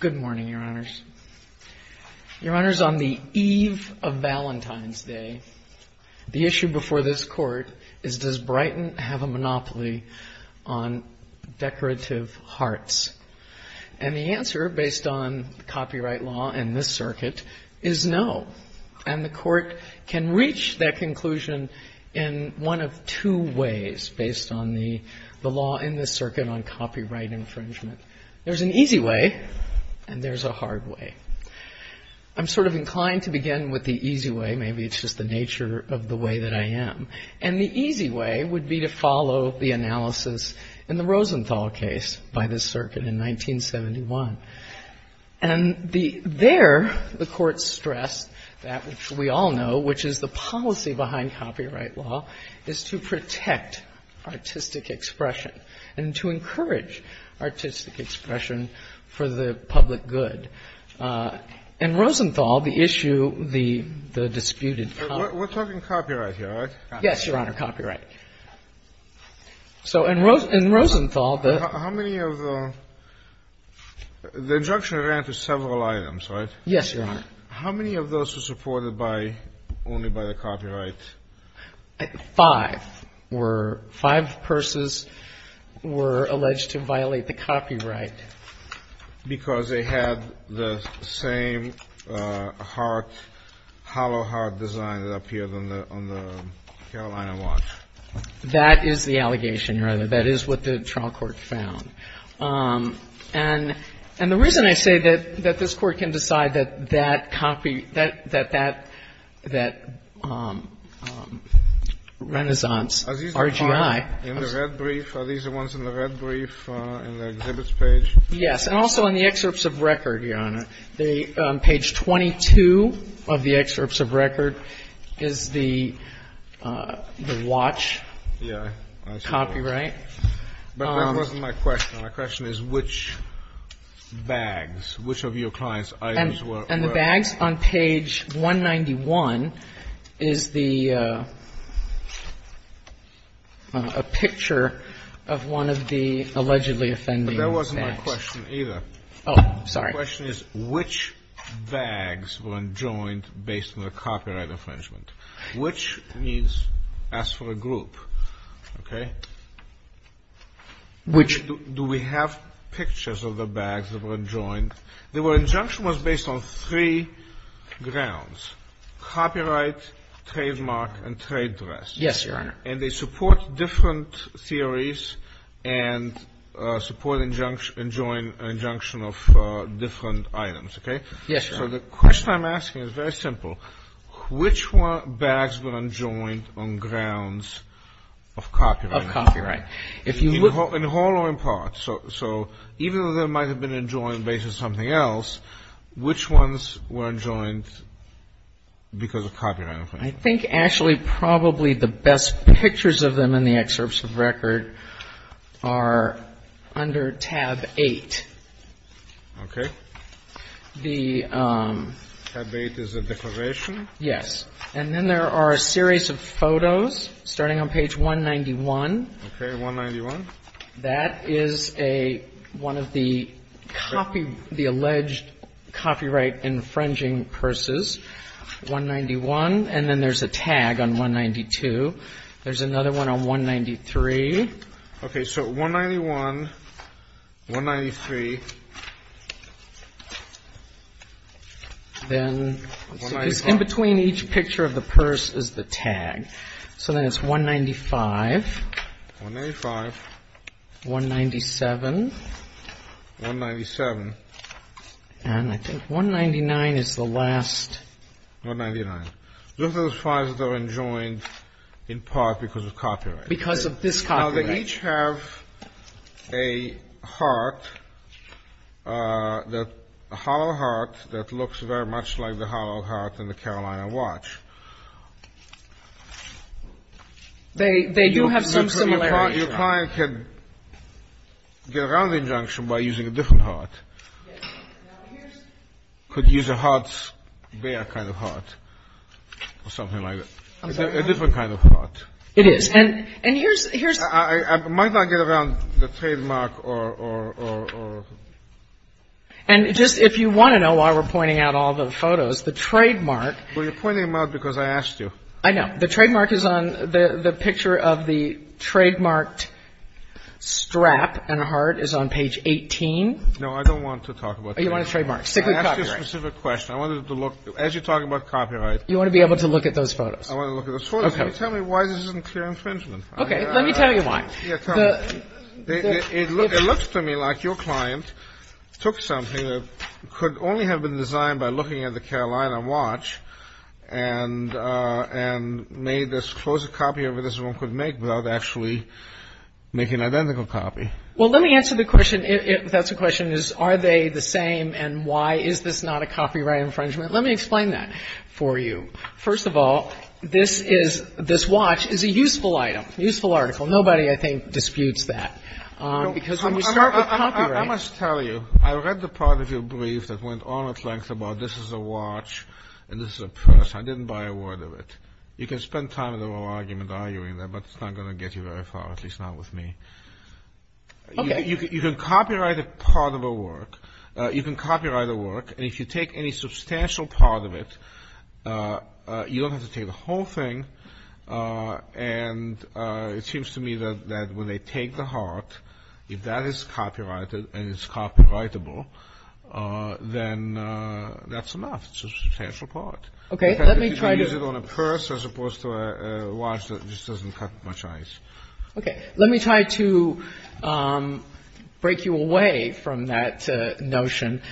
Good morning, Your Honors. Your Honors, on the eve of Valentine's Day, the issue before this Court is, does Brighton have a monopoly on decorative hearts? And the answer, based on copyright law in this circuit, is no. And the Court can reach that conclusion in one of two ways, based on the law in this circuit on copyright infringement. There's an easy way, and there's a hard way. I'm sort of inclined to begin with the easy way. Maybe it's just the nature of the way that I am. And the easy way would be to follow the analysis in the Rosenthal case by this circuit in 1971. And there, the Court stressed that, which we all know, which is the policy behind copyright law, is to protect artistic expression and to encourage artistic expression for the public good. In Rosenthal, the issue, the disputed policy. We're talking copyright here, right? Yes, Your Honor, copyright. So in Rosenthal, the – How many of the – the injunction ran to several items, right? Yes, Your Honor. How many of those were supported by – only by the copyright? Five were – five purses were alleged to violate the copyright. Because they had the same heart, hollow heart design that appeared on the Carolina watch. That is the allegation, Your Honor. That is what the trial court found. And the reason I say that this Court can decide that that copy – that that Renaissance RGI – Yes. And also in the excerpts of record, Your Honor, the – page 22 of the excerpts of record is the watch. Yeah. Copyright. But that wasn't my question. My question is which bags, which of your clients' items were – And the bags on page 191 is the – a picture of one of the allegedly offending bags. That wasn't my question either. Oh, sorry. My question is which bags were enjoined based on the copyright infringement? Which means as for a group, okay? Which – Do we have pictures of the bags that were enjoined? The injunction was based on three grounds, copyright, trademark, and trade dress. Yes, Your Honor. And they support different theories and support injunction of different items, okay? Yes, Your Honor. So the question I'm asking is very simple. Which bags were enjoined on grounds of copyright? Of copyright. In whole or in part. So even though they might have been enjoined based on something else, which ones were enjoined because of copyright? I think actually probably the best pictures of them in the excerpts of record are under tab 8. Okay. The – Tab 8 is a declaration? Yes. And then there are a series of photos starting on page 191. Okay. 191. That is a – one of the copy – the alleged copyright infringing purses. 191. And then there's a tag on 192. There's another one on 193. Okay. So 191, 193. Then – 195. In between each picture of the purse is the tag. So then it's 195. 195. 197. 197. And I think 199 is the last. 199. Those are the fives that are enjoined in part because of copyright. Because of this copyright. Now, they each have a heart, a hollow heart that looks very much like the hollow heart in the Carolina Watch. They do have some similarities. Your client can get around the injunction by using a different heart. Yes. Now here's – Could use a heart's bare kind of heart or something like that. I'm sorry? A different kind of heart. It is. And here's – I might not get around the trademark or – And just if you want to know why we're pointing out all the photos, the trademark – Well, you're pointing them out because I asked you. I know. The trademark is on – the picture of the trademarked strap and a heart is on page 18. No, I don't want to talk about that. You want a trademark. I asked you a specific question. I wanted to look – as you're talking about copyright – You want to be able to look at those photos. I want to look at those photos. Okay. Tell me why this isn't clear infringement. Okay. Let me tell you why. It looks to me like your client took something that could only have been designed by looking at the Carolina Watch and made this – closed a copy of it as one could make without actually making an identical copy. Well, let me answer the question – if that's the question, is are they the same and why is this not a copyright infringement? Let me explain that for you. First of all, this is – this watch is a useful item, useful article. Nobody, I think, disputes that because when you start with copyright – I must tell you, I read the part of your brief that went on at length about this is a watch and this is a purse. I didn't buy a word of it. You can spend time in a little argument arguing that, but it's not going to get you very far, at least not with me. Okay. You can copyright a part of a work. You can copyright a work, and if you take any substantial part of it, you don't have to take the whole thing, and it seems to me that when they take the heart, if that is copyrighted and it's copyrightable, then that's enough. It's a substantial part. Okay. If you use it on a purse as opposed to a watch that just doesn't cut much ice. Okay. Let me try to break you away from that notion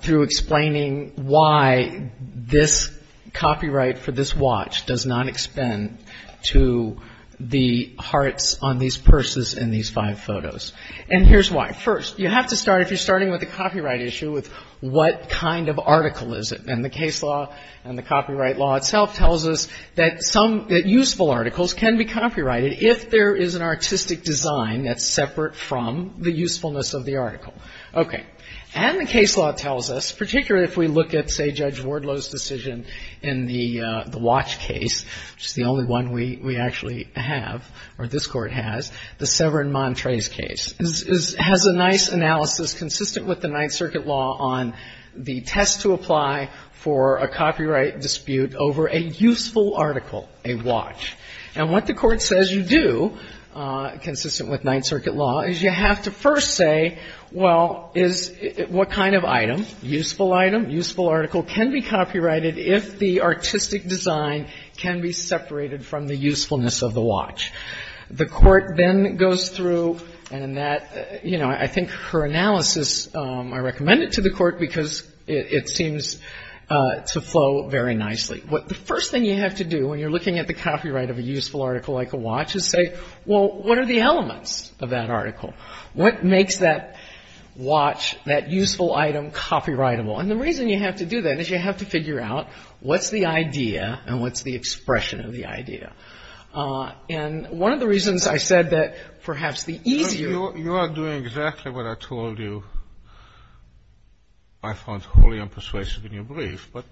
through explaining why this copyright for this watch does not extend to the hearts on these purses in these five photos, and here's why. First, you have to start, if you're starting with a copyright issue, with what kind of article is it, and the case law and the copyright law itself tells us that useful articles can be copyrighted if there is an artistic design that's separate from the usefulness of the article. Okay. And the case law tells us, particularly if we look at, say, Judge Wardlow's decision in the watch case, which is the only one we actually have, or this Court has, the Severin-Montres case, has a nice analysis consistent with the Ninth Circuit law on the test to apply for a copyright dispute over a useful article, a watch. And what the Court says you do, consistent with Ninth Circuit law, is you have to first say, well, is what kind of item, useful item, useful article, can be copyrighted if the artistic design can be separated from the usefulness of the watch? The Court then goes through, and that, you know, I think her analysis, I recommend it to the Court because it seems to flow very nicely. The first thing you have to do when you're looking at the copyright of a useful article like a watch is say, well, what are the elements of that article? What makes that watch, that useful item, copyrightable? And the reason you have to do that is you have to figure out what's the idea and what's the expression of the idea. And one of the reasons I said that perhaps the easier you are doing exactly what I told you, I found wholly unpersuasive in your brief, but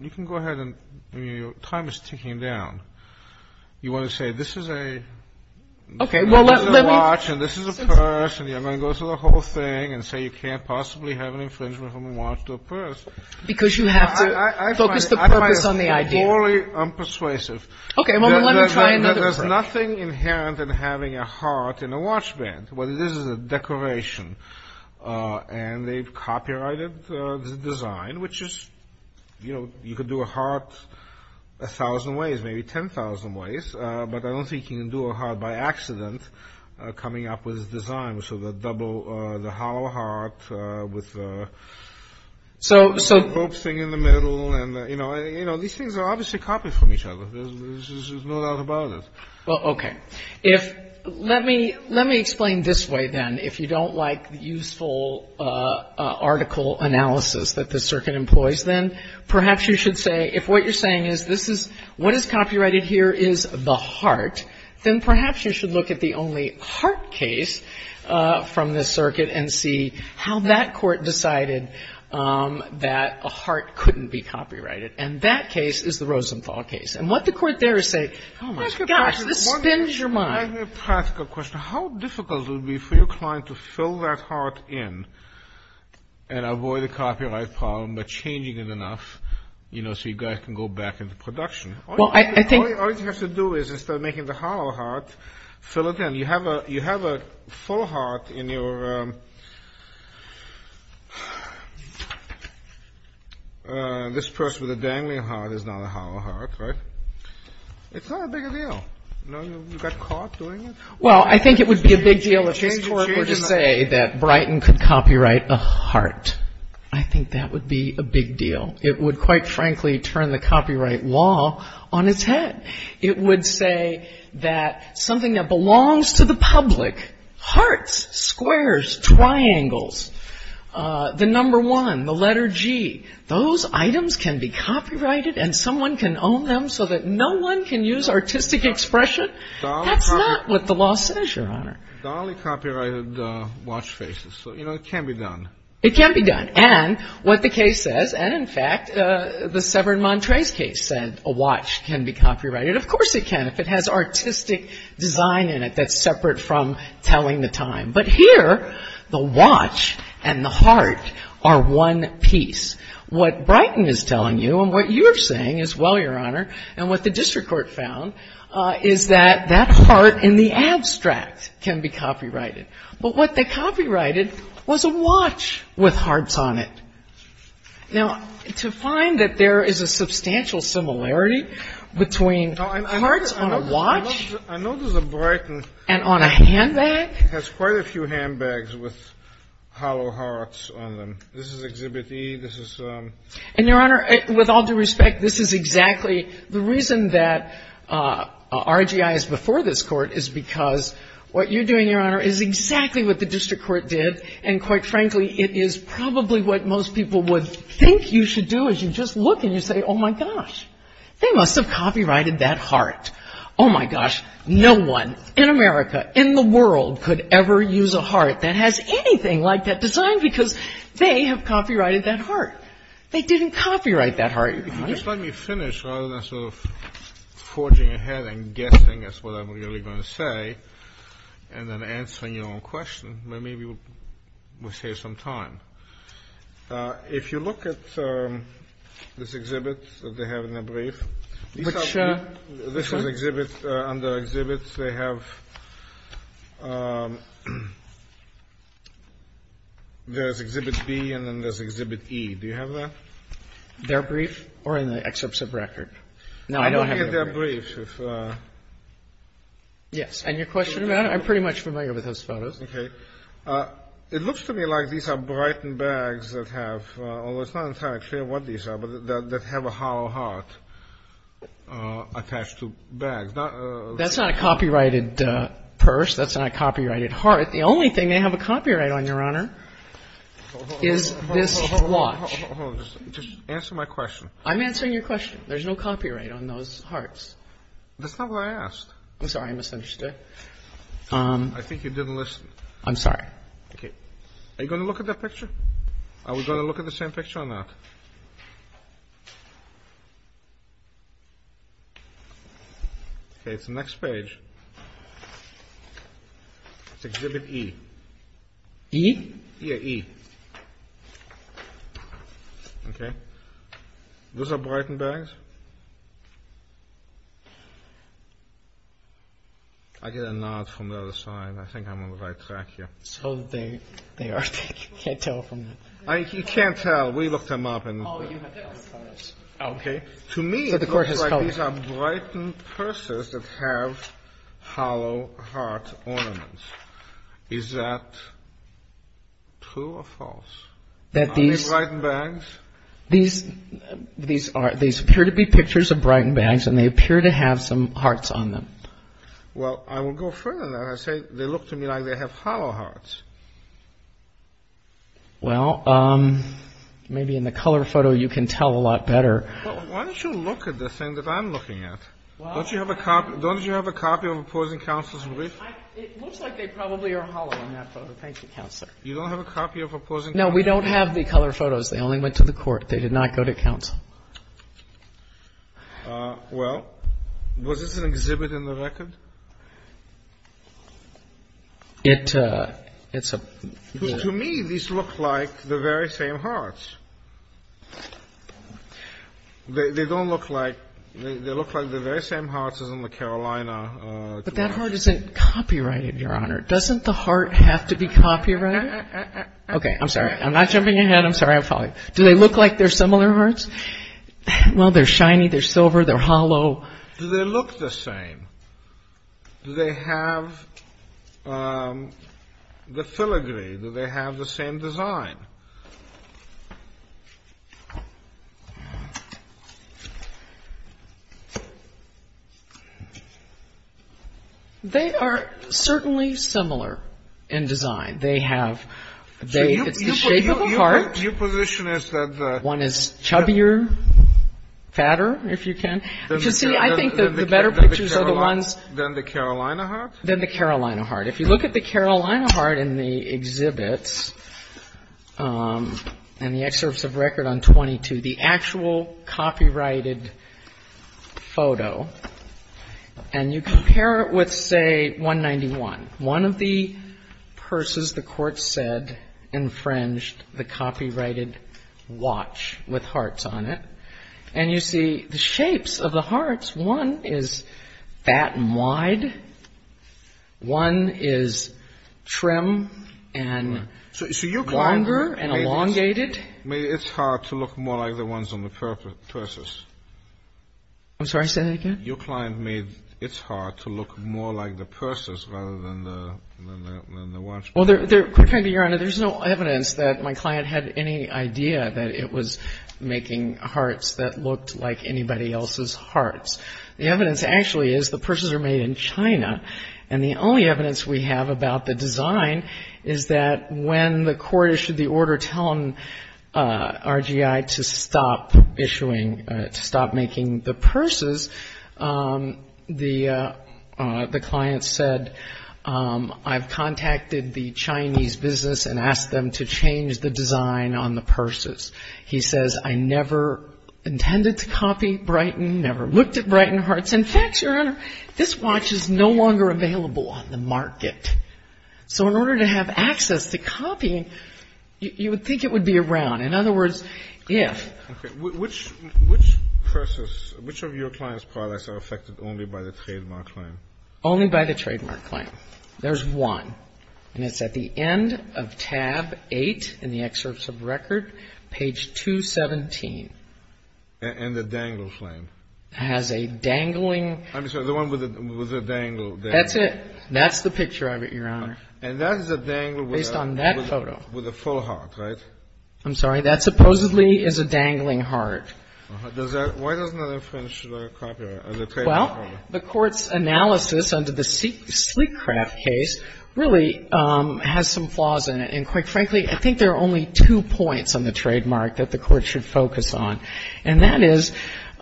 you can go ahead and your time is ticking down. You want to say this is a watch and this is a purse, and you're going to go through the whole thing and say you can't possibly have an infringement from a watch to a purse. Because you have to focus the purpose on the idea. I find it wholly unpersuasive. Okay, well, let me try another trick. There's nothing inherent in having a heart in a watch band. What it is is a decoration, and they've copyrighted the design, which is, you know, you could do a heart a thousand ways, maybe 10,000 ways, but I don't think you can do a heart by accident coming up with this design. So the double, the hollow heart with the hopes thing in the middle. And, you know, these things are obviously copied from each other. There's no doubt about it. Well, okay. Let me explain this way, then. If you don't like the useful article analysis that the circuit employs, then perhaps you should say if what you're saying is this is what is copyrighted here is the heart, then perhaps you should look at the only heart case from the circuit and see how that court decided that a heart couldn't be copyrighted. And that case is the Rosenthal case. And what the court there is saying, gosh, this spins your mind. Let me ask you a practical question. How difficult would it be for your client to fill that heart in and avoid a copyright problem by changing it enough, you know, so you guys can go back into production? Well, I think... All you have to do is instead of making the hollow heart, fill it in. You have a full heart in your... This purse with a dangling heart is not a hollow heart, right? It's not a big deal. You know, you got caught doing it. Well, I think it would be a big deal if this court were to say that Brighton could copyright a heart. I think that would be a big deal. It would, quite frankly, turn the copyright law on its head. It would say that something that belongs to the public, hearts, squares, triangles, the number one, the letter G, those items can be copyrighted and someone can own them so that no one can use artistic expression? That's not what the law says, Your Honor. The only copyrighted watch faces. So, you know, it can be done. It can be done. And what the case says, and, in fact, the Severin-Montrez case said a watch can be copyrighted. Of course it can if it has artistic design in it that's separate from telling the time. But here, the watch and the heart are one piece. What Brighton is telling you and what you're saying as well, Your Honor, and what the district court found is that that heart in the abstract can be copyrighted. But what they copyrighted was a watch with hearts on it. Now, to find that there is a substantial similarity between hearts on a watch and on a handbag. It has quite a few handbags with hollow hearts on them. This is Exhibit E. And, Your Honor, with all due respect, this is exactly the reason that RGI is before this Court is because what you're doing, Your Honor, is exactly what the district court did. And, quite frankly, it is probably what most people would think you should do is you just look and you say, oh, my gosh, they must have copyrighted that heart. Oh, my gosh, no one in America, in the world could ever use a heart that has anything like that design because they have copyrighted that heart. They didn't copyright that heart. If you just let me finish rather than sort of forging ahead and guessing, that's what I'm really going to say, and then answering your own question, maybe we'll save some time. If you look at this exhibit that they have in their brief, this is exhibit under exhibits. They have there's Exhibit B and then there's Exhibit E. Do you have that? Their brief or in the excerpts of record? No, I don't have their brief. I'm looking at their brief. Yes. And your question about it? I'm pretty much familiar with those photos. Okay. It looks to me like these are Brighton bags that have, although it's not entirely clear what these are, but that have a hollow heart attached to bags. That's not a copyrighted purse. That's not a copyrighted heart. The only thing they have a copyright on, Your Honor, is this watch. Hold on. Just answer my question. I'm answering your question. There's no copyright on those hearts. That's not what I asked. I'm sorry. I misunderstood. I think you didn't listen. I'm sorry. Okay. Are you going to look at that picture? Are we going to look at the same picture or not? Okay. It's the next page. It's Exhibit E. E? Yeah, E. Okay. Those are Brighton bags? I get a nod from the other side. I think I'm on the right track here. So they are. I can't tell from that. You can't tell? We looked them up. Oh, you have those photos. Okay. To me it looks like these are Brighton purses that have hollow heart ornaments. Is that true or false? Are these Brighton bags? These appear to be pictures of Brighton bags, and they appear to have some hearts on them. Well, I will go further than that. I say they look to me like they have hollow hearts. Well, maybe in the color photo you can tell a lot better. Why don't you look at the thing that I'm looking at? Don't you have a copy of a Poison Counselor's Brief? It looks like they probably are hollow in that photo. Thank you, Counselor. You don't have a copy of a Poison Counselor's Brief? No, we don't have the color photos. They only went to the court. They did not go to counsel. Well, was this an exhibit in the record? To me, these look like the very same hearts. They don't look like they look like the very same hearts as in the Carolina. But that heart isn't copyrighted, Your Honor. Doesn't the heart have to be copyrighted? Okay. I'm sorry. I'm not jumping ahead. I'm sorry. I'm following. Do they look like they're similar hearts? Well, they're shiny. They're silver. They're hollow. Do they look the same? Do they have the filigree? Do they have the same design? They are certainly similar in design. They have the shape of a heart. Your position is that the one is chubbier, fatter, if you can. You see, I think the better pictures are the ones. Than the Carolina heart? Than the Carolina heart. If you look at the Carolina heart in the exhibits and the excerpts of record on 22, the actual copyrighted photo, and you compare it with, say, 191, one of the purses the court said infringed the copyrighted watch with hearts on it, and you see the shapes of the hearts. One is fat and wide. One is trim and longer and elongated. It's hard to look more like the ones on the purses. I'm sorry. Say that again. Your client made it hard to look more like the purses rather than the watch. Well, there's no evidence that my client had any idea that it was making hearts that looked like anybody else's hearts. The evidence actually is the purses are made in China, and the only evidence we have about the design is that when the court issued the order telling RGI to stop making the purses, the client said, I've contacted the Chinese business and asked them to change the design on the purses. He says, I never intended to copy Brighton, never looked at Brighton hearts. In fact, Your Honor, this watch is no longer available on the market. So in order to have access to copying, you would think it would be around. In other words, if. Okay. Which purses, which of your client's products are affected only by the trademark claim? Only by the trademark claim. There's one, and it's at the end of tab 8 in the excerpts of record, page 217. And the dangle flame. It has a dangling. I'm sorry. The one with the dangle. That's it. That's the picture of it, Your Honor. And that is a dangle with a. Based on that photo. With a full heart, right? I'm sorry. That supposedly is a dangling heart. Why doesn't the French have a copyright? Well, the Court's analysis under the Sleekcraft case really has some flaws in it. And quite frankly, I think there are only two points on the trademark that the Court should focus on. And that is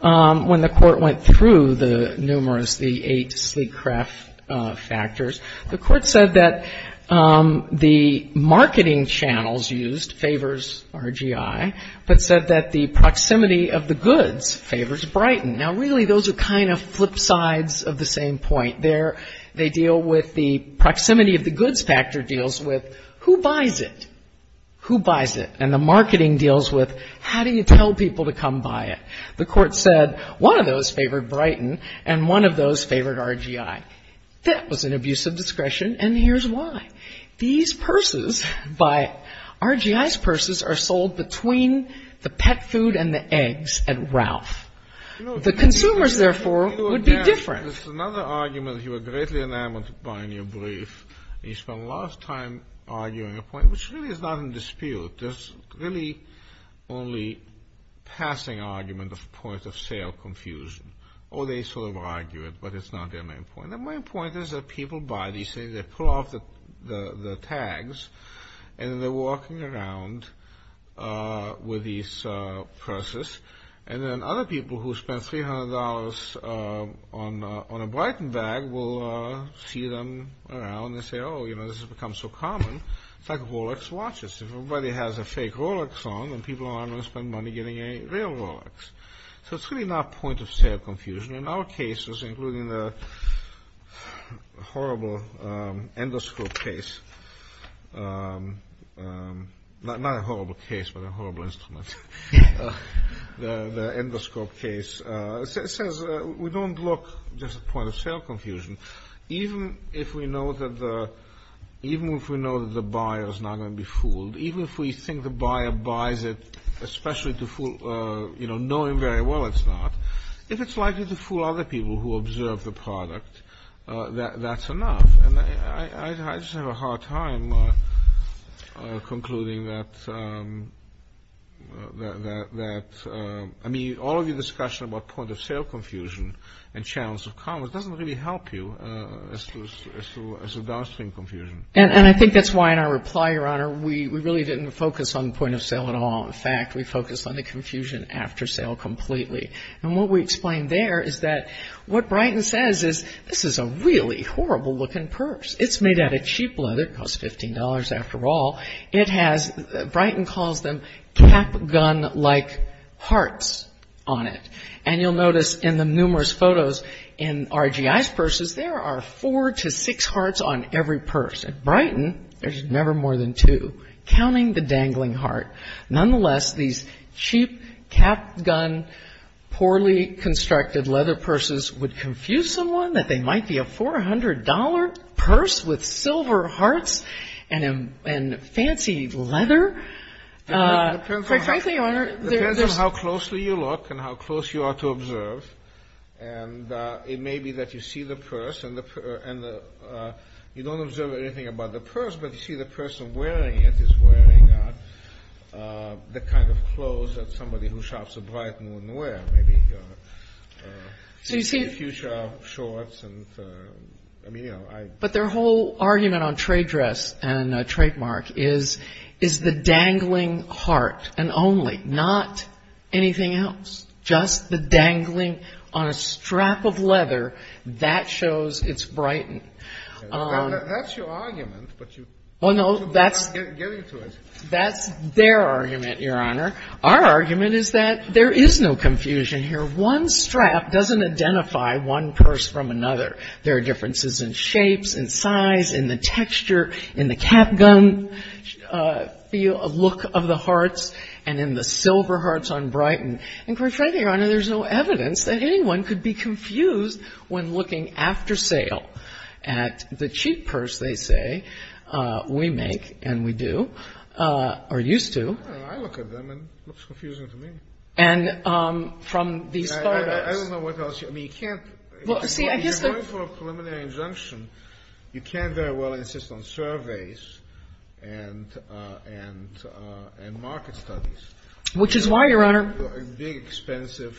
when the Court went through the numerous, the eight Sleekcraft factors, the Court said that the marketing channels used favors RGI, but said that the proximity of the goods favors Brighton. Now, really, those are kind of flip sides of the same point. They deal with the proximity of the goods factor deals with who buys it? Who buys it? And the marketing deals with how do you tell people to come buy it? The Court said one of those favored Brighton and one of those favored RGI. That was an abuse of discretion, and here's why. These purses, RGI's purses, are sold between the pet food and the eggs at Ralph. The consumers, therefore, would be different. This is another argument you were greatly enamored by in your brief. You spent a lot of time arguing a point which really is not in dispute. There's really only passing argument of point-of-sale confusion. Or they sort of argue it, but it's not their main point. Their main point is that people buy these things, they pull off the tags, and then they're walking around with these purses. And then other people who spend $300 on a Brighton bag will see them around and say, oh, you know, this has become so common. It's like Rolex watches. If everybody has a fake Rolex on, then people aren't going to spend money getting a real Rolex. So it's really not point-of-sale confusion. In our cases, including the horrible endoscope case. Not a horrible case, but a horrible instrument. The endoscope case says we don't look just at point-of-sale confusion. Even if we know that the buyer is not going to be fooled, even if we think the buyer buys it especially to fool, you know, knowing very well it's not, if it's likely to fool other people who observe the product, that's enough. And I just have a hard time concluding that, I mean, all of your discussion about point-of-sale confusion and channels of commerce doesn't really help you as to downstream confusion. And I think that's why in our reply, Your Honor, we really didn't focus on point-of-sale at all. In fact, we focused on the confusion after sale completely. And what we explained there is that what Brighton says is this is a really horrible-looking purse. It's made out of cheap leather, costs $15 after all. It has, Brighton calls them cap-gun-like hearts on it. And you'll notice in the numerous photos in RGI's purses, there are four to six hearts on every purse. At Brighton, there's never more than two, counting the dangling heart. Nonetheless, these cheap cap-gun, poorly constructed leather purses would confuse someone that they might be a $400 purse with silver hearts and fancy leather. Frankly, Your Honor, there's this ---- It depends on how closely you look and how close you are to observe. And it may be that you see the purse and you don't observe anything about the purse, but you see the person wearing it is wearing the kind of clothes that somebody who shops at Brighton wouldn't wear. Maybe a few short shorts and, I mean, you know, I ---- But their whole argument on trade dress and trademark is the dangling heart and only, not anything else. Just the dangling on a strap of leather, that shows it's Brighton. That's your argument, but you ---- Well, no, that's ---- Get into it. That's their argument, Your Honor. Our argument is that there is no confusion here. One strap doesn't identify one purse from another. There are differences in shapes and size, in the texture, in the cap-gun look of the hearts, and in the silver hearts on Brighton. And quite frankly, Your Honor, there's no evidence that anyone could be confused when looking after sale at the cheap purse they say we make and we do, or used to. I don't know. I look at them and it looks confusing to me. And from these photos. I don't know what else. I mean, you can't ---- Well, see, I guess the ---- If you're going for a preliminary injunction, you can't very well insist on surveys and market studies. Which is why, Your Honor ---- Big, expensive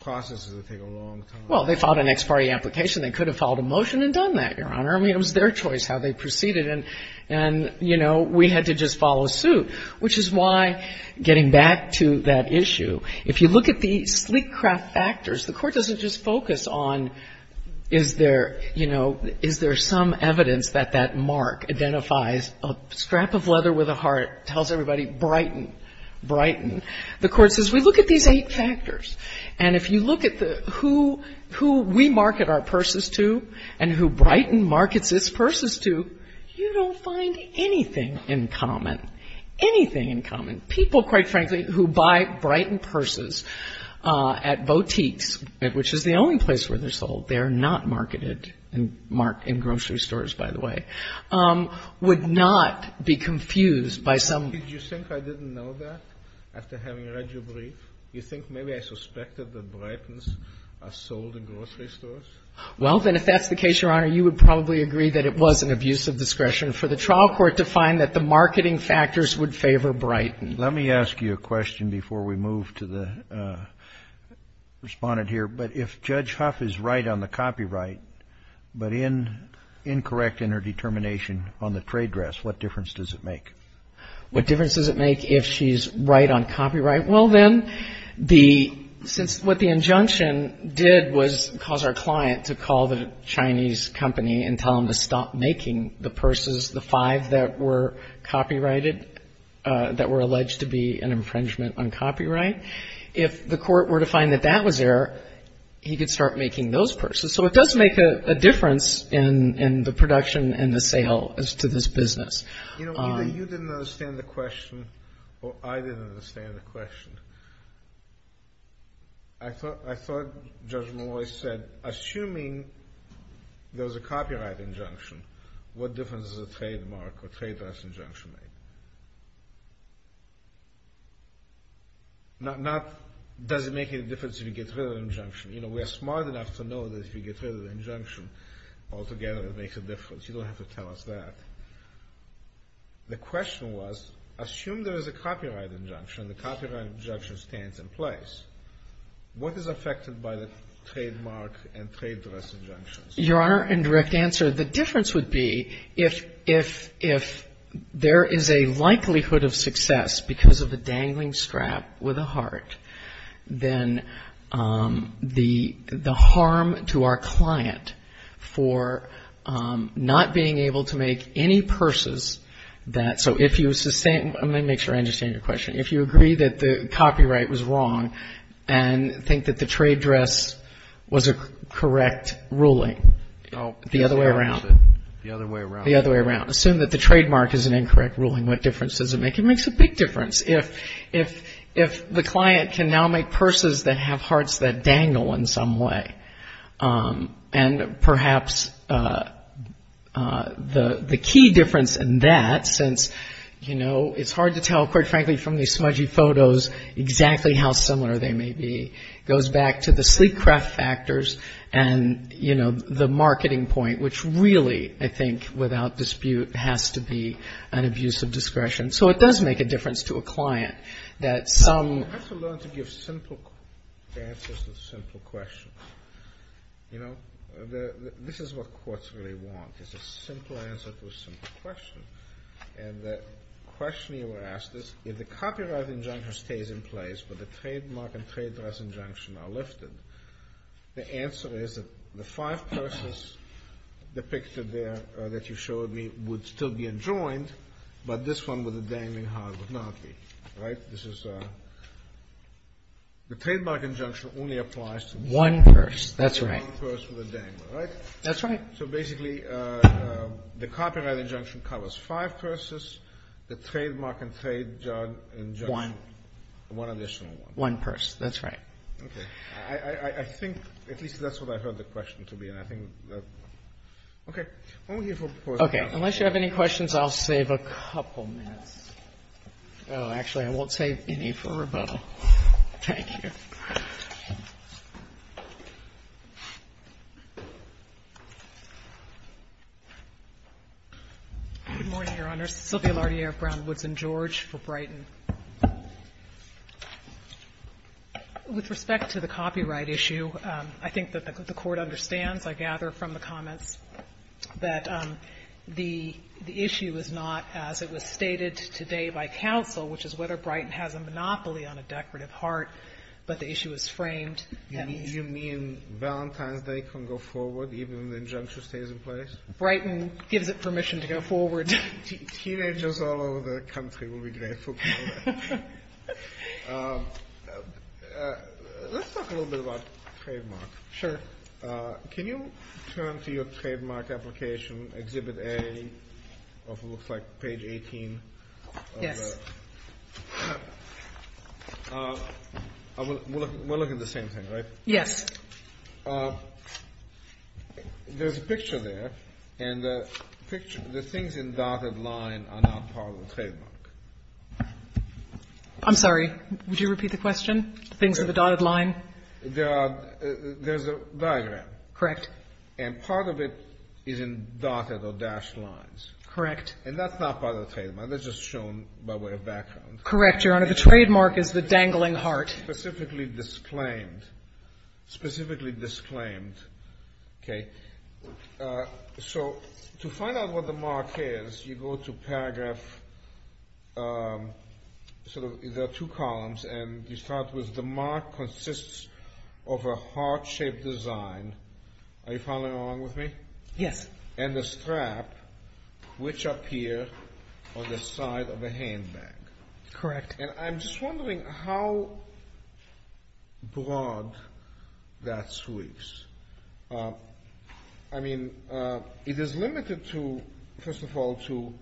processes that take a long time. Well, they filed an ex parte application. They could have filed a motion and done that, Your Honor. I mean, it was their choice how they proceeded. And, you know, we had to just follow suit, which is why, getting back to that issue, if you look at the sleek craft factors, the Court doesn't just focus on is there, you know, is there some evidence that that mark identifies a scrap of leather with a heart, tells everybody Brighton, Brighton. The Court says we look at these eight factors. And if you look at who we market our purses to and who Brighton markets its purses to, you don't find anything in common. Anything in common. People, quite frankly, who buy Brighton purses at boutiques, which is the only place where they're sold, they're not marketed in grocery stores, by the way, would not be confused by some ---- Did you think I didn't know that after having read your brief? You think maybe I suspected that Brightons are sold in grocery stores? Well, then, if that's the case, Your Honor, you would probably agree that it was an abuse of discretion for the trial court to find that the marketing factors would favor Brighton. Let me ask you a question before we move to the Respondent here. But if Judge Huff is right on the copyright but incorrect in her determination on the trade dress, what difference does it make? What difference does it make if she's right on copyright? Well, then, since what the injunction did was cause our client to call the Chinese company and tell them to stop making the purses, the five that were copyrighted, that were alleged to be an infringement on copyright, if the court were to find that that was there, he could start making those purses. So it does make a difference in the production and the sale to this business. You know, either you didn't understand the question or I didn't understand the question. I thought Judge Malloy said, assuming there was a copyright injunction, what difference does a trademark or trade dress injunction make? Not does it make any difference if you get rid of the injunction. You know, we are smart enough to know that if you get rid of the injunction, altogether it makes a difference. You don't have to tell us that. The question was, assume there is a copyright injunction, the copyright injunction stands in place. What is affected by the trademark and trade dress injunctions? Your Honor, in direct answer, the difference would be if there is a likelihood of success because of a dangling strap with a heart, then the harm to our client for not being able to make any purses that, so if you sustain, let me make sure I understand your question, if you agree that the copyright was wrong and think that the trade dress was a correct ruling, the other way around. The other way around. The other way around. Assume that the trademark is an incorrect ruling. What difference does it make? It makes a big difference. If the client can now make purses that have hearts that dangle in some way, and perhaps the key difference in that, since, you know, it's hard to tell, quite frankly, from these smudgy photos exactly how similar they may be, goes back to the sleek craft factors and, you know, the marketing point, which really, I think, without dispute, has to be an abuse of discretion. So it does make a difference to a client that some. You have to learn to give simple answers to simple questions. You know, this is what courts really want, is a simple answer to a simple question. And the question you were asked is, if the copyright injunction stays in place, but the trademark and trade dress injunction are lifted, the answer is that the five purses depicted there that you showed me would still be enjoined, but this one with the dangling heart would not be. Right? This is the trademark injunction only applies to one purse. That's right. One purse with a dangling heart. That's right. So basically, the copyright injunction covers five purses. The trademark and trade dress injunction, one additional one. One purse. That's right. Okay. I think at least that's what I heard the question to be, and I think that, okay. Okay. Unless you have any questions, I'll save a couple minutes. Oh, actually, I won't save any for rebuttal. Thank you. Good morning, Your Honors. Sylvia Lartier of Brown, Woods and George for Brighton. With respect to the copyright issue, I think that the Court understands, I gather from the comments, that the issue is not, as it was stated today by counsel, which is whether Brighton has a monopoly on a decorative heart, but the issue is framed. You mean Valentine's Day can go forward even if the injunction stays in place? Brighton gives it permission to go forward. Teenagers all over the country will be grateful for that. Let's talk a little bit about trademark. Sure. Can you turn to your trademark application, Exhibit A of what looks like page 18? Yes. We're looking at the same thing, right? Yes. There's a picture there, and the things in dotted line are not part of the trademark. I'm sorry. Would you repeat the question? The things in the dotted line? There's a diagram. Correct. And part of it is in dotted or dashed lines. Correct. And that's not part of the trademark. That's just shown by way of background. Correct, Your Honor. The trademark is the dangling heart. Specifically disclaimed. Specifically disclaimed. Okay. So to find out what the mark is, you go to paragraph, sort of, there are two columns, and you start with, the mark consists of a heart-shaped design. Are you following along with me? Yes. And the strap, which appear on the side of a handbag. Correct. And I'm just wondering how broad that sweeps. I mean, it is limited to, first of all, to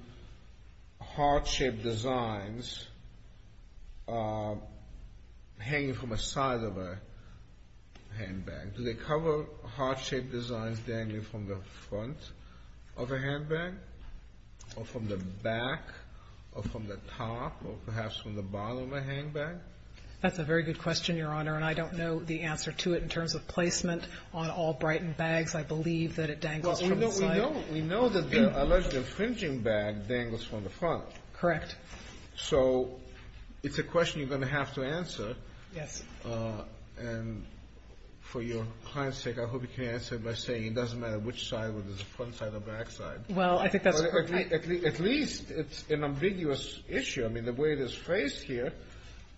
heart-shaped designs hanging from a side of a handbag. Do they cover heart-shaped designs dangling from the front of a handbag, or from the back, or from the top, or perhaps from the bottom of a handbag? That's a very good question, Your Honor, and I don't know the answer to it in terms of placement on all Brighton bags. I believe that it dangles from the side. Well, we know that the alleged infringing bag dangles from the front. Correct. So it's a question you're going to have to answer. Yes. And for your client's sake, I hope you can answer it by saying it doesn't matter which side, whether it's the front side or back side. Well, I think that's correct. At least it's an ambiguous issue. I mean, the way it is phrased here,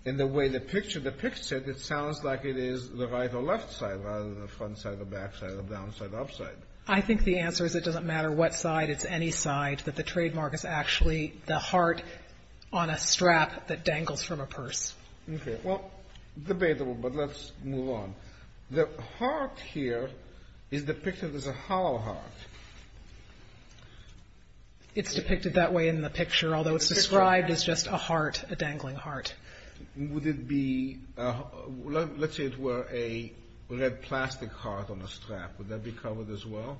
and the way the picture depicts it, it sounds like it is the right or left side, rather than the front side or back side, or down side or up side. I think the answer is it doesn't matter what side, it's any side, that the trademark is actually the heart on a strap that dangles from a purse. Okay. Well, debatable, but let's move on. The heart here is depicted as a hollow heart. It's depicted that way in the picture, although it's described as just a heart, a dangling heart. Would it be, let's say it were a red plastic heart on a strap, would that be covered as well?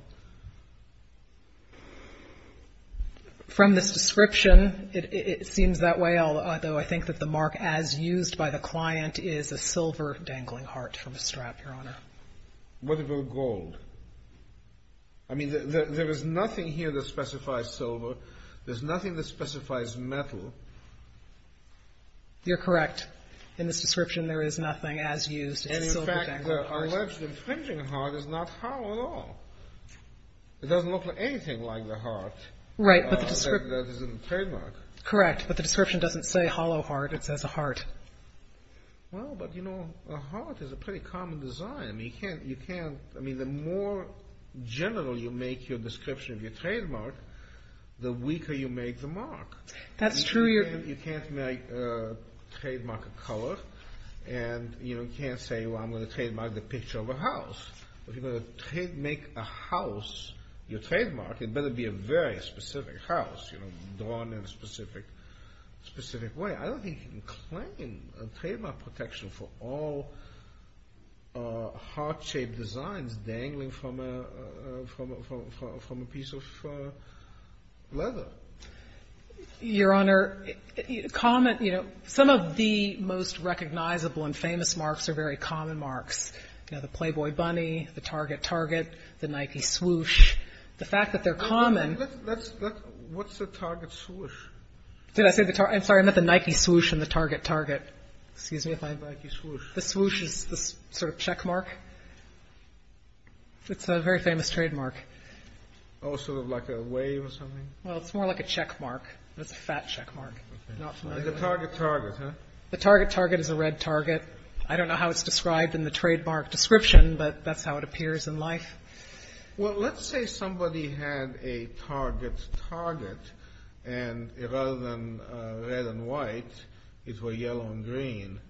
From this description, it seems that way, although I think that the mark as used by the client is a silver dangling heart from a strap, Your Honor. What about gold? I mean, there is nothing here that specifies silver. There's nothing that specifies metal. You're correct. In this description, there is nothing as used as a silver dangling heart. In fact, the alleged infringing heart is not hollow at all. It doesn't look anything like the heart that is in the trademark. Correct, but the description doesn't say hollow heart. It says a heart. Well, but you know, a heart is a pretty common design. I mean, the more general you make your description of your trademark, the weaker you make the mark. That's true. You can't make a trademark of color, and you can't say, well, I'm going to trademark the picture of a house. If you're going to make a house your trademark, it better be a very specific house, drawn in a specific way. I don't think you can claim a trademark protection for all heart-shaped designs dangling from a piece of leather. Your Honor, some of the most recognizable and famous marks are very common marks. You know, the Playboy Bunny, the Target Target, the Nike Swoosh. The fact that they're common. What's the Target Swoosh? Did I say the Target? I'm sorry, I meant the Nike Swoosh and the Target Target. Excuse me if I'm wrong. The Nike Swoosh. The Swoosh is the sort of checkmark. It's a very famous trademark. Oh, sort of like a wave or something? Well, it's more like a checkmark. It's a fat checkmark. The Target Target, huh? The Target Target is a red target. I don't know how it's described in the trademark description, but that's how it appears in life. Well, let's say somebody had a Target Target, and rather than red and white, it were yellow and green.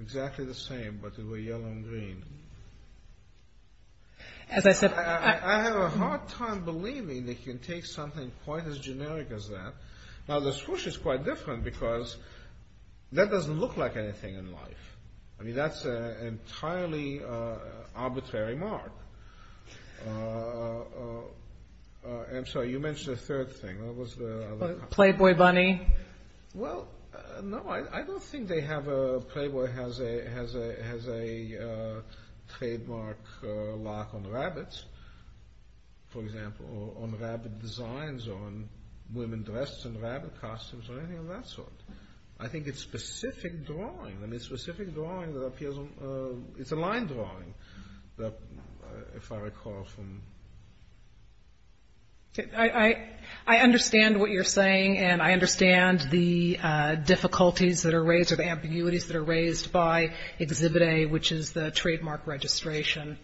Exactly the same, but it were yellow and green. As I said... I have a hard time believing they can take something quite as generic as that. Now, the Swoosh is quite different because that doesn't look like anything in life. I mean, that's an entirely arbitrary mark. I'm sorry, you mentioned a third thing. Playboy Bunny? Well, no, I don't think Playboy has a trademark lock on rabbits. For example, on rabbit designs or on women dressed in rabbit costumes or anything of that sort. I think it's specific drawing. I mean, it's specific drawing that appears on... It's a line drawing, if I recall from... I understand what you're saying, and I understand the difficulties that are raised or the ambiguities that are raised by Exhibit A, which is the trademark registration.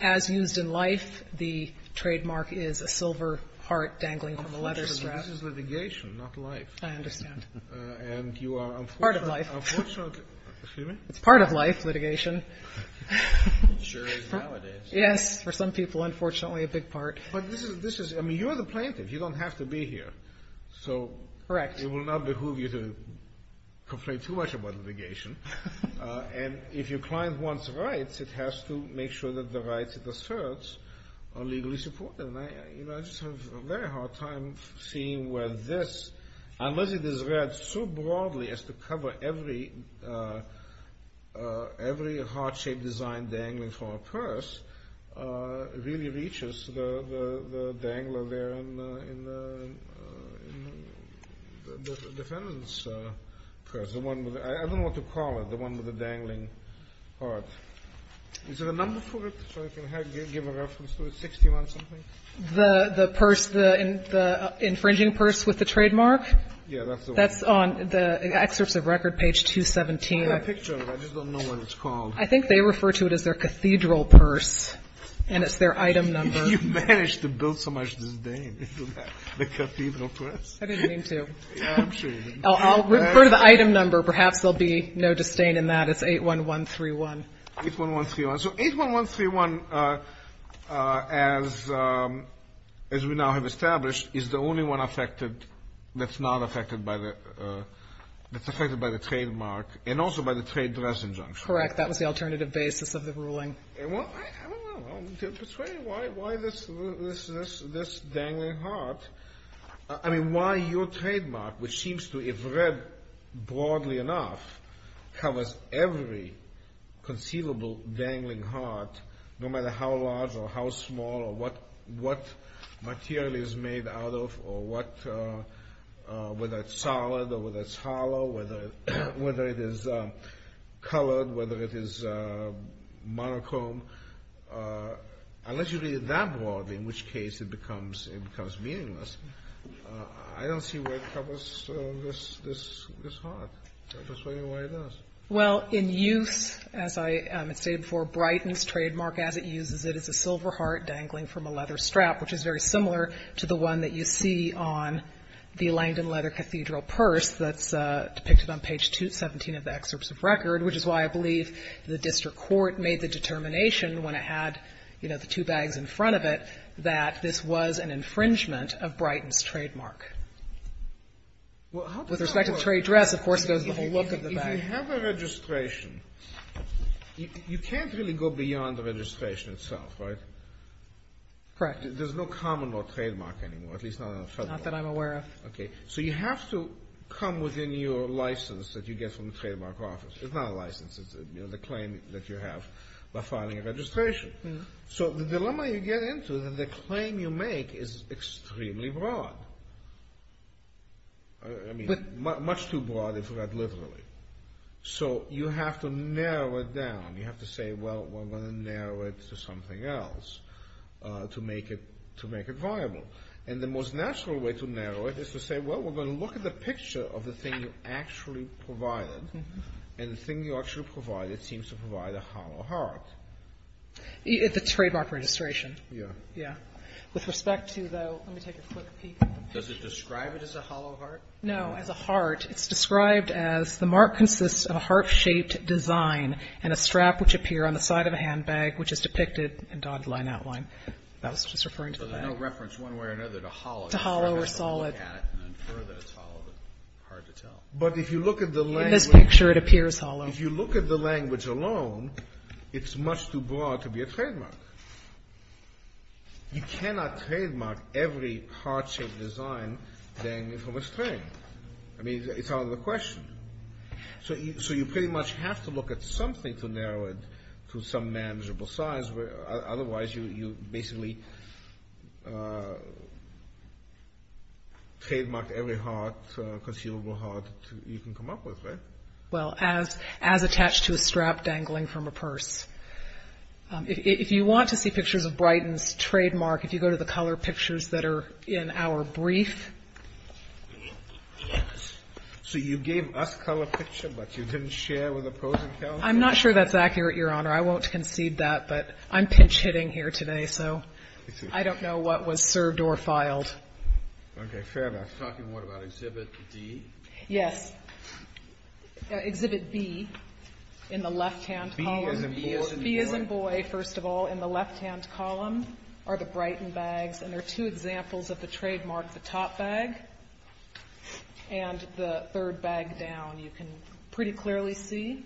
As used in life, the trademark is a silver heart dangling from a letter strap. The letter strap is litigation, not life. I understand. And you are, unfortunately... It's part of life. Excuse me? It's part of life, litigation. It sure is nowadays. Yes, for some people, unfortunately, a big part. But this is... I mean, you're the plaintiff. You don't have to be here. Correct. So it will not behoove you to complain too much about litigation. And if your client wants rights, it has to make sure that the rights it asserts are legally supported. You know, I just have a very hard time seeing where this, unless it is read so broadly as to cover every heart-shaped design dangling from a purse, really reaches the dangler there in the defendant's purse. I don't know what to call it, the one with the dangling heart. Is there a number for it so I can give a reference to it, 61-something? The purse, the infringing purse with the trademark? Yeah, that's the one. That's on the excerpts of record, page 217. I have a picture of it. I just don't know what it's called. I think they refer to it as their cathedral purse, and it's their item number. You managed to build so much disdain into that, the cathedral purse. I didn't mean to. I'm sure you didn't. I'll refer to the item number. Perhaps there will be no disdain in that. That's 81131. 81131. So 81131, as we now have established, is the only one affected that's not affected by the – that's affected by the trademark and also by the trade dress injunction. Correct. That was the alternative basis of the ruling. Well, I don't know. Why this dangling heart? I mean, why your trademark, which seems to, if read broadly enough, covers every conceivable dangling heart, no matter how large or how small or what material it is made out of or what – whether it's solid or whether it's hollow, whether it is colored, whether it is monochrome, unless you read it that broadly, in which case it becomes meaningless, I don't see why it covers this heart. I'm just wondering why it does. Well, in use, as I had stated before, Brighton's trademark, as it uses it, is a silver heart dangling from a leather strap, which is very similar to the one that you see on the Langdon Leather Cathedral purse that's depicted on page 17 of the excerpts of record, which is why I believe the district court made the determination when it had, you know, the two bags in front of it, that this was an infringement of Brighton's trademark. Well, how does that work? With respect to the trade dress, of course, goes the whole look of the bag. If you have a registration, you can't really go beyond the registration itself, right? Correct. There's no common law trademark anymore, at least not in the federal law. Not that I'm aware of. Okay. So you have to come within your license that you get from the trademark office. It's not a license. It's the claim that you have by filing a registration. So the dilemma you get into is that the claim you make is extremely broad. I mean, much too broad if read literally. So you have to narrow it down. You have to say, well, we're going to narrow it to something else to make it viable. And the most natural way to narrow it is to say, well, we're going to look at the picture of the thing you actually provided. And the thing you actually provided seems to provide a hollow heart. The trademark registration. Yeah. Yeah. With respect to, though, let me take a quick peek at the picture. Does it describe it as a hollow heart? No. As a heart. It's described as the mark consists of a heart-shaped design and a strap which appear on the side of a handbag which is depicted in dotted line outline. That was just referring to the bag. So there's no reference one way or another to hollow. To hollow or solid. If you look at it and infer that it's hollow, it's hard to tell. But if you look at the language. In this picture, it appears hollow. If you look at the language alone, it's much too broad to be a trademark. You cannot trademark every heart-shaped design from a string. I mean, it's out of the question. So you pretty much have to look at something to narrow it to some manageable size. Otherwise, you basically trademark every heart, conceivable heart, you can come up with, right? Well, as attached to a strap dangling from a purse. If you want to see pictures of Brighton's trademark, if you go to the color pictures that are in our brief. So you gave us color picture, but you didn't share with opposing counsel? I'm not sure that's accurate, Your Honor. I won't concede that, but I'm pinch-hitting here today. So I don't know what was served or filed. Okay. Fair enough. Talking more about exhibit D? Yes. Exhibit B in the left-hand column. B as in boy? B as in boy, first of all. In the left-hand column are the Brighton bags. And there are two examples of the trademark. The top bag and the third bag down. You can pretty clearly see.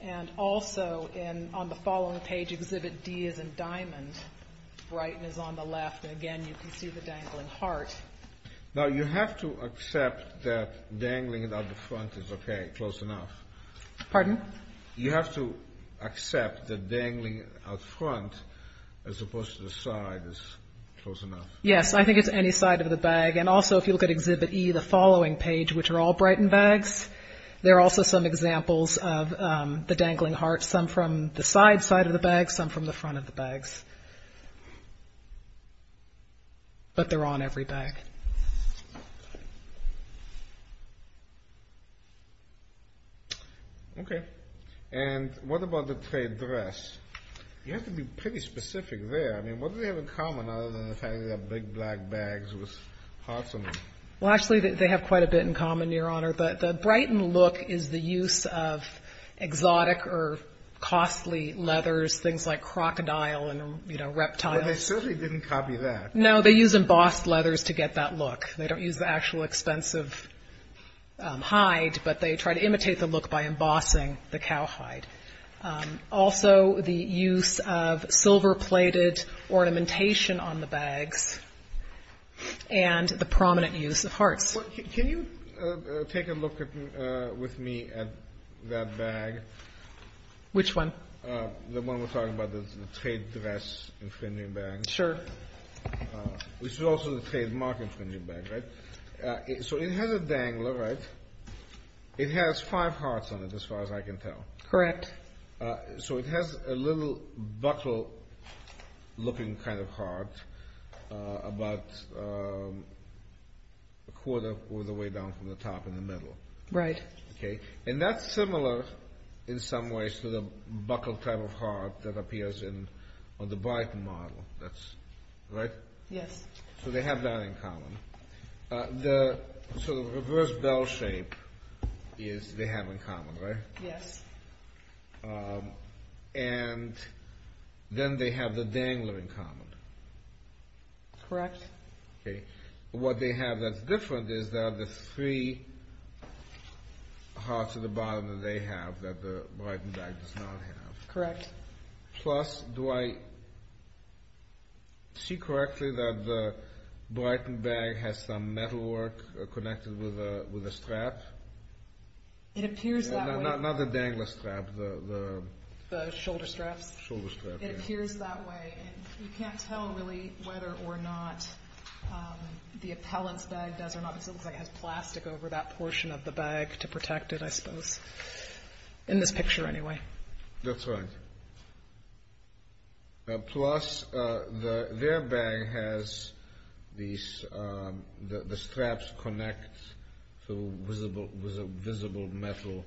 And also on the following page, exhibit D is in diamond. Brighton is on the left. Again, you can see the dangling heart. Now, you have to accept that dangling it out the front is okay, close enough. Pardon? You have to accept that dangling it out front, as opposed to the side, is close enough. Yes, I think it's any side of the bag. And also, if you look at exhibit E, the following page, which are all Brighton bags, there are also some examples of the dangling heart, some from the side side of the bag, some from the front of the bags. But they're on every bag. Okay. And what about the trade dress? You have to be pretty specific there. I mean, what do they have in common other than the fact that they're big black bags with hearts on them? Well, actually, they have quite a bit in common, Your Honor. The Brighton look is the use of exotic or costly leathers, things like crocodile and, you know, reptile. Well, they certainly didn't copy that. No, they use embossed leathers to get that look. They don't use the actual expensive hide, but they try to imitate the look by embossing the cow hide. Also, the use of silver-plated ornamentation on the bags and the prominent use of hearts. Can you take a look with me at that bag? Which one? The one we're talking about, the trade dress infringing bag. Sure. Which is also the trademark infringing bag, right? So it has a dangler, right? It has five hearts on it, as far as I can tell. Correct. So it has a little buckle-looking kind of heart about a quarter all the way down from the top in the middle. Right. Okay. And that's similar in some ways to the buckle type of heart that appears on the Brighton model, right? Yes. So they have that in common. So the reverse bell shape they have in common, right? Yes. And then they have the dangler in common. Correct. Okay. What they have that's different is that the three hearts at the bottom that they have that the Brighton bag does not have. Correct. Plus, do I see correctly that the Brighton bag has some metalwork connected with a strap? It appears that way. Not the dangler strap. The shoulder straps? Shoulder straps, yes. It appears that way. You can't tell really whether or not the appellant's bag does or not because it looks like it has plastic over that portion of the bag to protect it, I suppose. In this picture, anyway. That's right. Plus, their bag has the straps connect to visible metal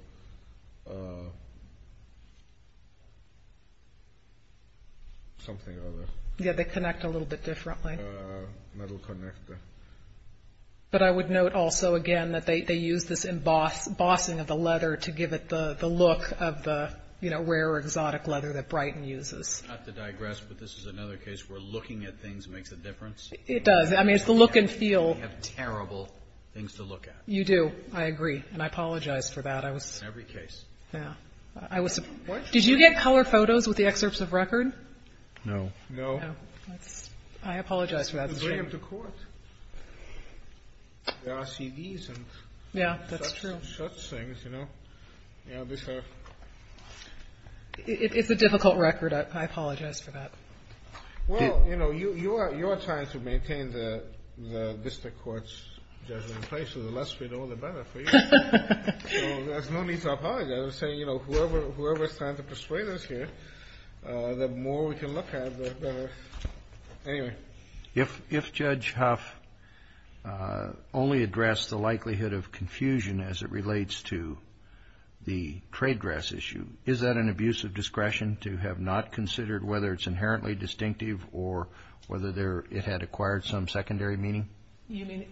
something or other. Yes, they connect a little bit differently. Metal connector. But I would note also, again, that they use this embossing of the leather to give it the look of the rare exotic leather that Brighton uses. I have to digress, but this is another case where looking at things makes a difference. It does. I mean, it's the look and feel. We have terrible things to look at. You do. I agree. And I apologize for that. In every case. Yeah. What? Did you get color photos with the excerpts of record? No. No. I apologize for that. It's a shame. They bring them to court. There are CDs and such things, you know. It's a difficult record. I apologize for that. Well, you know, you are trying to maintain the district court's judgment in place. So the less we know, the better for you. So there's no need to apologize. I'm saying, you know, whoever is trying to persuade us here, the more we can look at, the better. Anyway. If Judge Huff only addressed the likelihood of confusion as it relates to the trade dress issue, is that an abuse of discretion to have not considered whether it's inherently distinctive or whether it had acquired some secondary meaning? You mean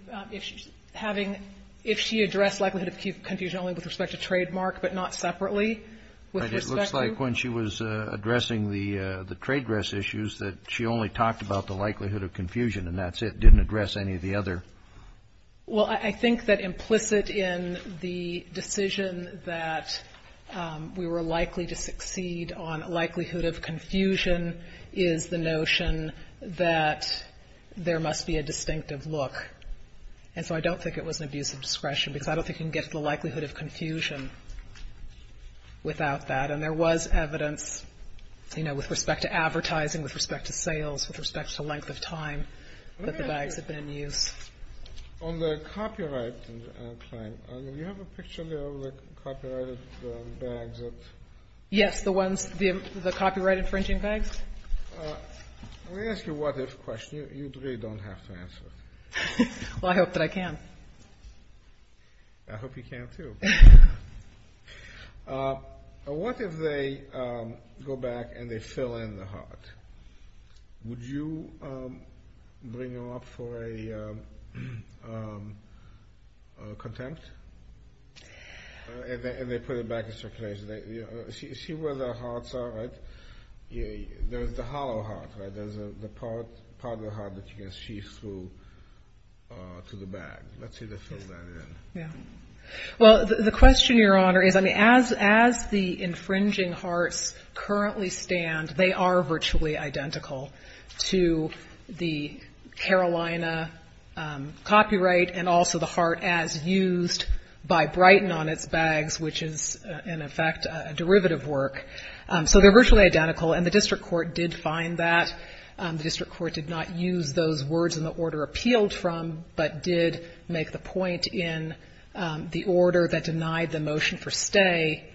if she addressed likelihood of confusion only with respect to trademark but not separately with respect to? It looks like when she was addressing the trade dress issues that she only talked about the likelihood of confusion and that's it, didn't address any of the other. Well, I think that implicit in the decision that we were likely to succeed on likelihood of confusion is the notion that there must be a distinctive look. And so I don't think it was an abuse of discretion because I don't think you can get to the likelihood of confusion without that. And there was evidence, you know, with respect to advertising, with respect to sales, with respect to length of time that the bags had been in use. On the copyright claim, do you have a picture there of the copyrighted bags? Yes, the ones, the copyright infringing bags? Let me ask you a what-if question. You really don't have to answer it. Well, I hope that I can. I hope you can, too. What if they go back and they fill in the heart? Would you bring them up for a contempt? And they put it back in circulation. See where the hearts are, right? There's the hollow heart, right? There's the part of the heart that you can see through to the bag. Let's see if they fill that in. Yeah. Well, the question, Your Honor, is, I mean, as the infringing hearts currently stand, they are virtually identical to the Carolina copyright and also the heart as used by Brighton on its bags, which is, in effect, a derivative work. So they're virtually identical, and the district court did find that. The district court did not use those words in the order appealed from, but did make the point in the order that denied the motion for stay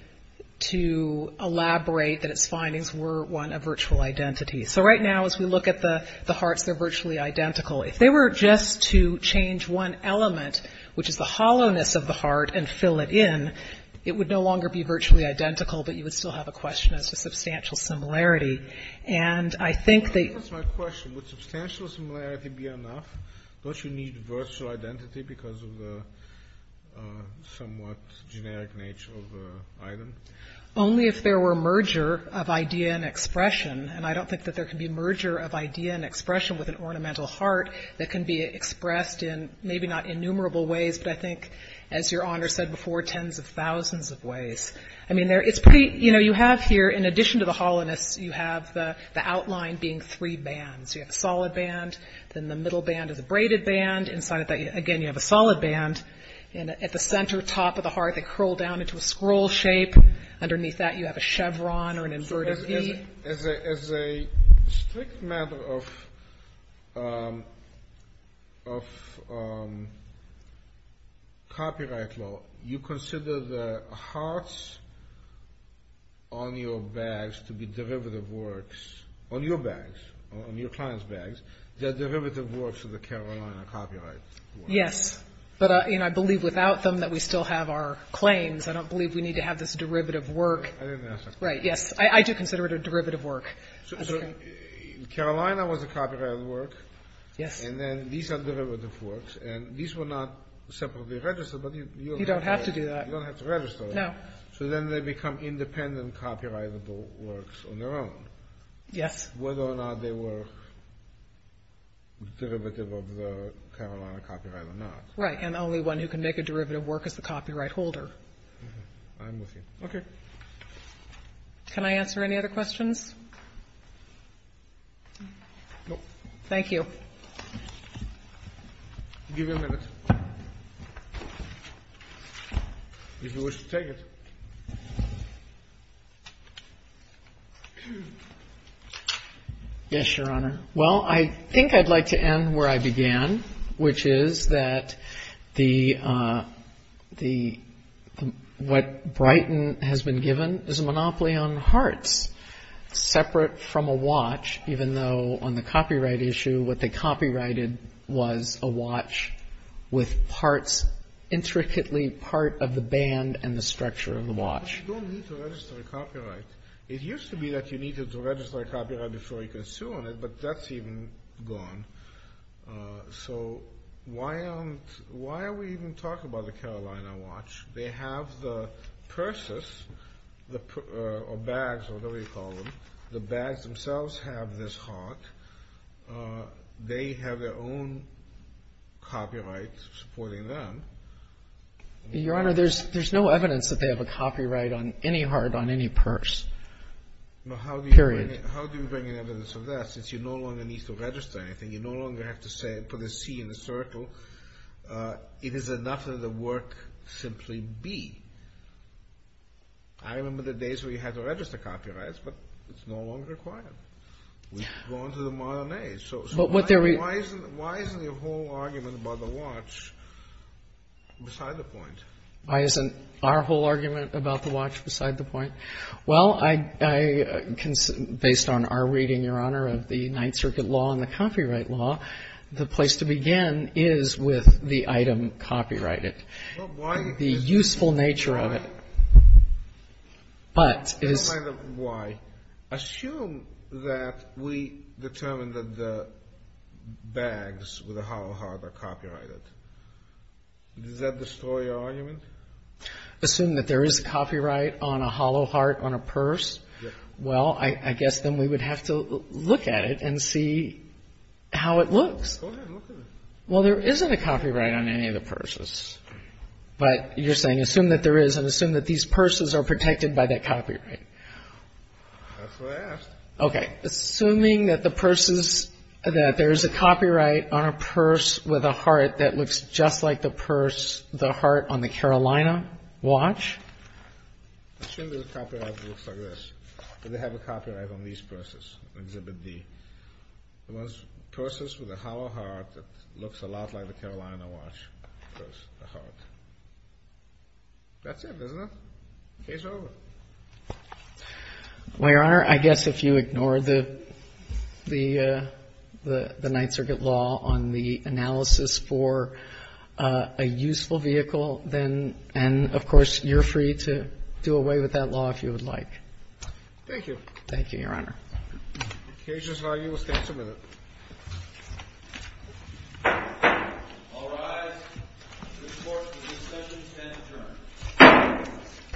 to elaborate that its findings were, one, a virtual identity. So right now, as we look at the hearts, they're virtually identical. If they were just to change one element, which is the hollowness of the heart, and fill it in, it would no longer be virtually identical, but you would still have a question as to substantial similarity. And I think that you... That's my question. Would substantial similarity be enough? Don't you need virtual identity because of the somewhat generic nature of the item? Only if there were merger of idea and expression. And I don't think that there can be merger of idea and expression with an ornamental heart that can be expressed in maybe not innumerable ways, but I think, as Your Honor said before, tens of thousands of ways. I mean, it's pretty, you know, you have here, in addition to the hollowness, you have the outline being three bands. So you have a solid band. Then the middle band is a braided band. Inside of that, again, you have a solid band. And at the center top of the heart, they curl down into a scroll shape. Underneath that, you have a chevron or an inverted V. As a strict matter of copyright law, you consider the hearts on your bags to be derivative works on your client's bags. They're derivative works of the Carolina copyright. Yes. But, you know, I believe without them that we still have our claims. I don't believe we need to have this derivative work. I didn't ask that question. Right. Yes. I do consider it a derivative work. So Carolina was a copyrighted work. Yes. And then these are derivative works. And these were not separately registered. You don't have to do that. You don't have to register them. No. So then they become independent copyrightable works on their own. Yes. Whether or not they were derivative of the Carolina copyright or not. Right. And the only one who can make a derivative work is the copyright holder. I'm with you. Okay. Can I answer any other questions? No. Thank you. I'll give you a minute. If you wish to take it. Yes, Your Honor. Well, I think I'd like to end where I began, which is that what Brighton has been given is a monopoly on hearts, separate from a watch, even though on the copyright issue what they copyrighted was a watch with parts intricately part of the band and the structure of the watch. But you don't need to register a copyright. It used to be that you needed to register a copyright before you could sue on it, but that's even gone. So why are we even talking about the Carolina watch? They have the purses or bags or whatever you call them, the bags themselves have this heart. They have their own copyright supporting them. Your Honor, there's no evidence that they have a copyright on any heart on any purse, period. How do you bring in evidence of that since you no longer need to register anything? You no longer have to put a C in the circle. It is enough that the work simply be. I remember the days where you had to register copyrights, but it's no longer required. We've gone to the modern age. So why isn't your whole argument about the watch beside the point? Why isn't our whole argument about the watch beside the point? Well, based on our reading, Your Honor, of the Ninth Circuit law and the copyright law, the place to begin is with the item copyrighted. The useful nature of it. But it is. Explain the why. Assume that we determine that the bags with a hollow heart are copyrighted. Does that destroy your argument? Assume that there is copyright on a hollow heart on a purse? Well, I guess then we would have to look at it and see how it looks. Go ahead, look at it. Well, there isn't a copyright on any of the purses. But you're saying assume that there is and assume that these purses are protected by that copyright. That's what I asked. Okay. Assuming that the purses, that there is a copyright on a purse with a heart that looks just like the purse, the heart on the Carolina watch? Assume there's a copyright that looks like this, that they have a copyright on these purses, Exhibit D. The ones, purses with a hollow heart that looks a lot like the Carolina watch purse, the heart. That's it, isn't it? Case over. Well, Your Honor, I guess if you ignore the Ninth Circuit law on the analysis for a useful vehicle, then, and, of course, you're free to do away with that law if you would like. Thank you. Thank you, Your Honor. Case is argued. We'll stand for a minute. All rise. The court for this session stands adjourned.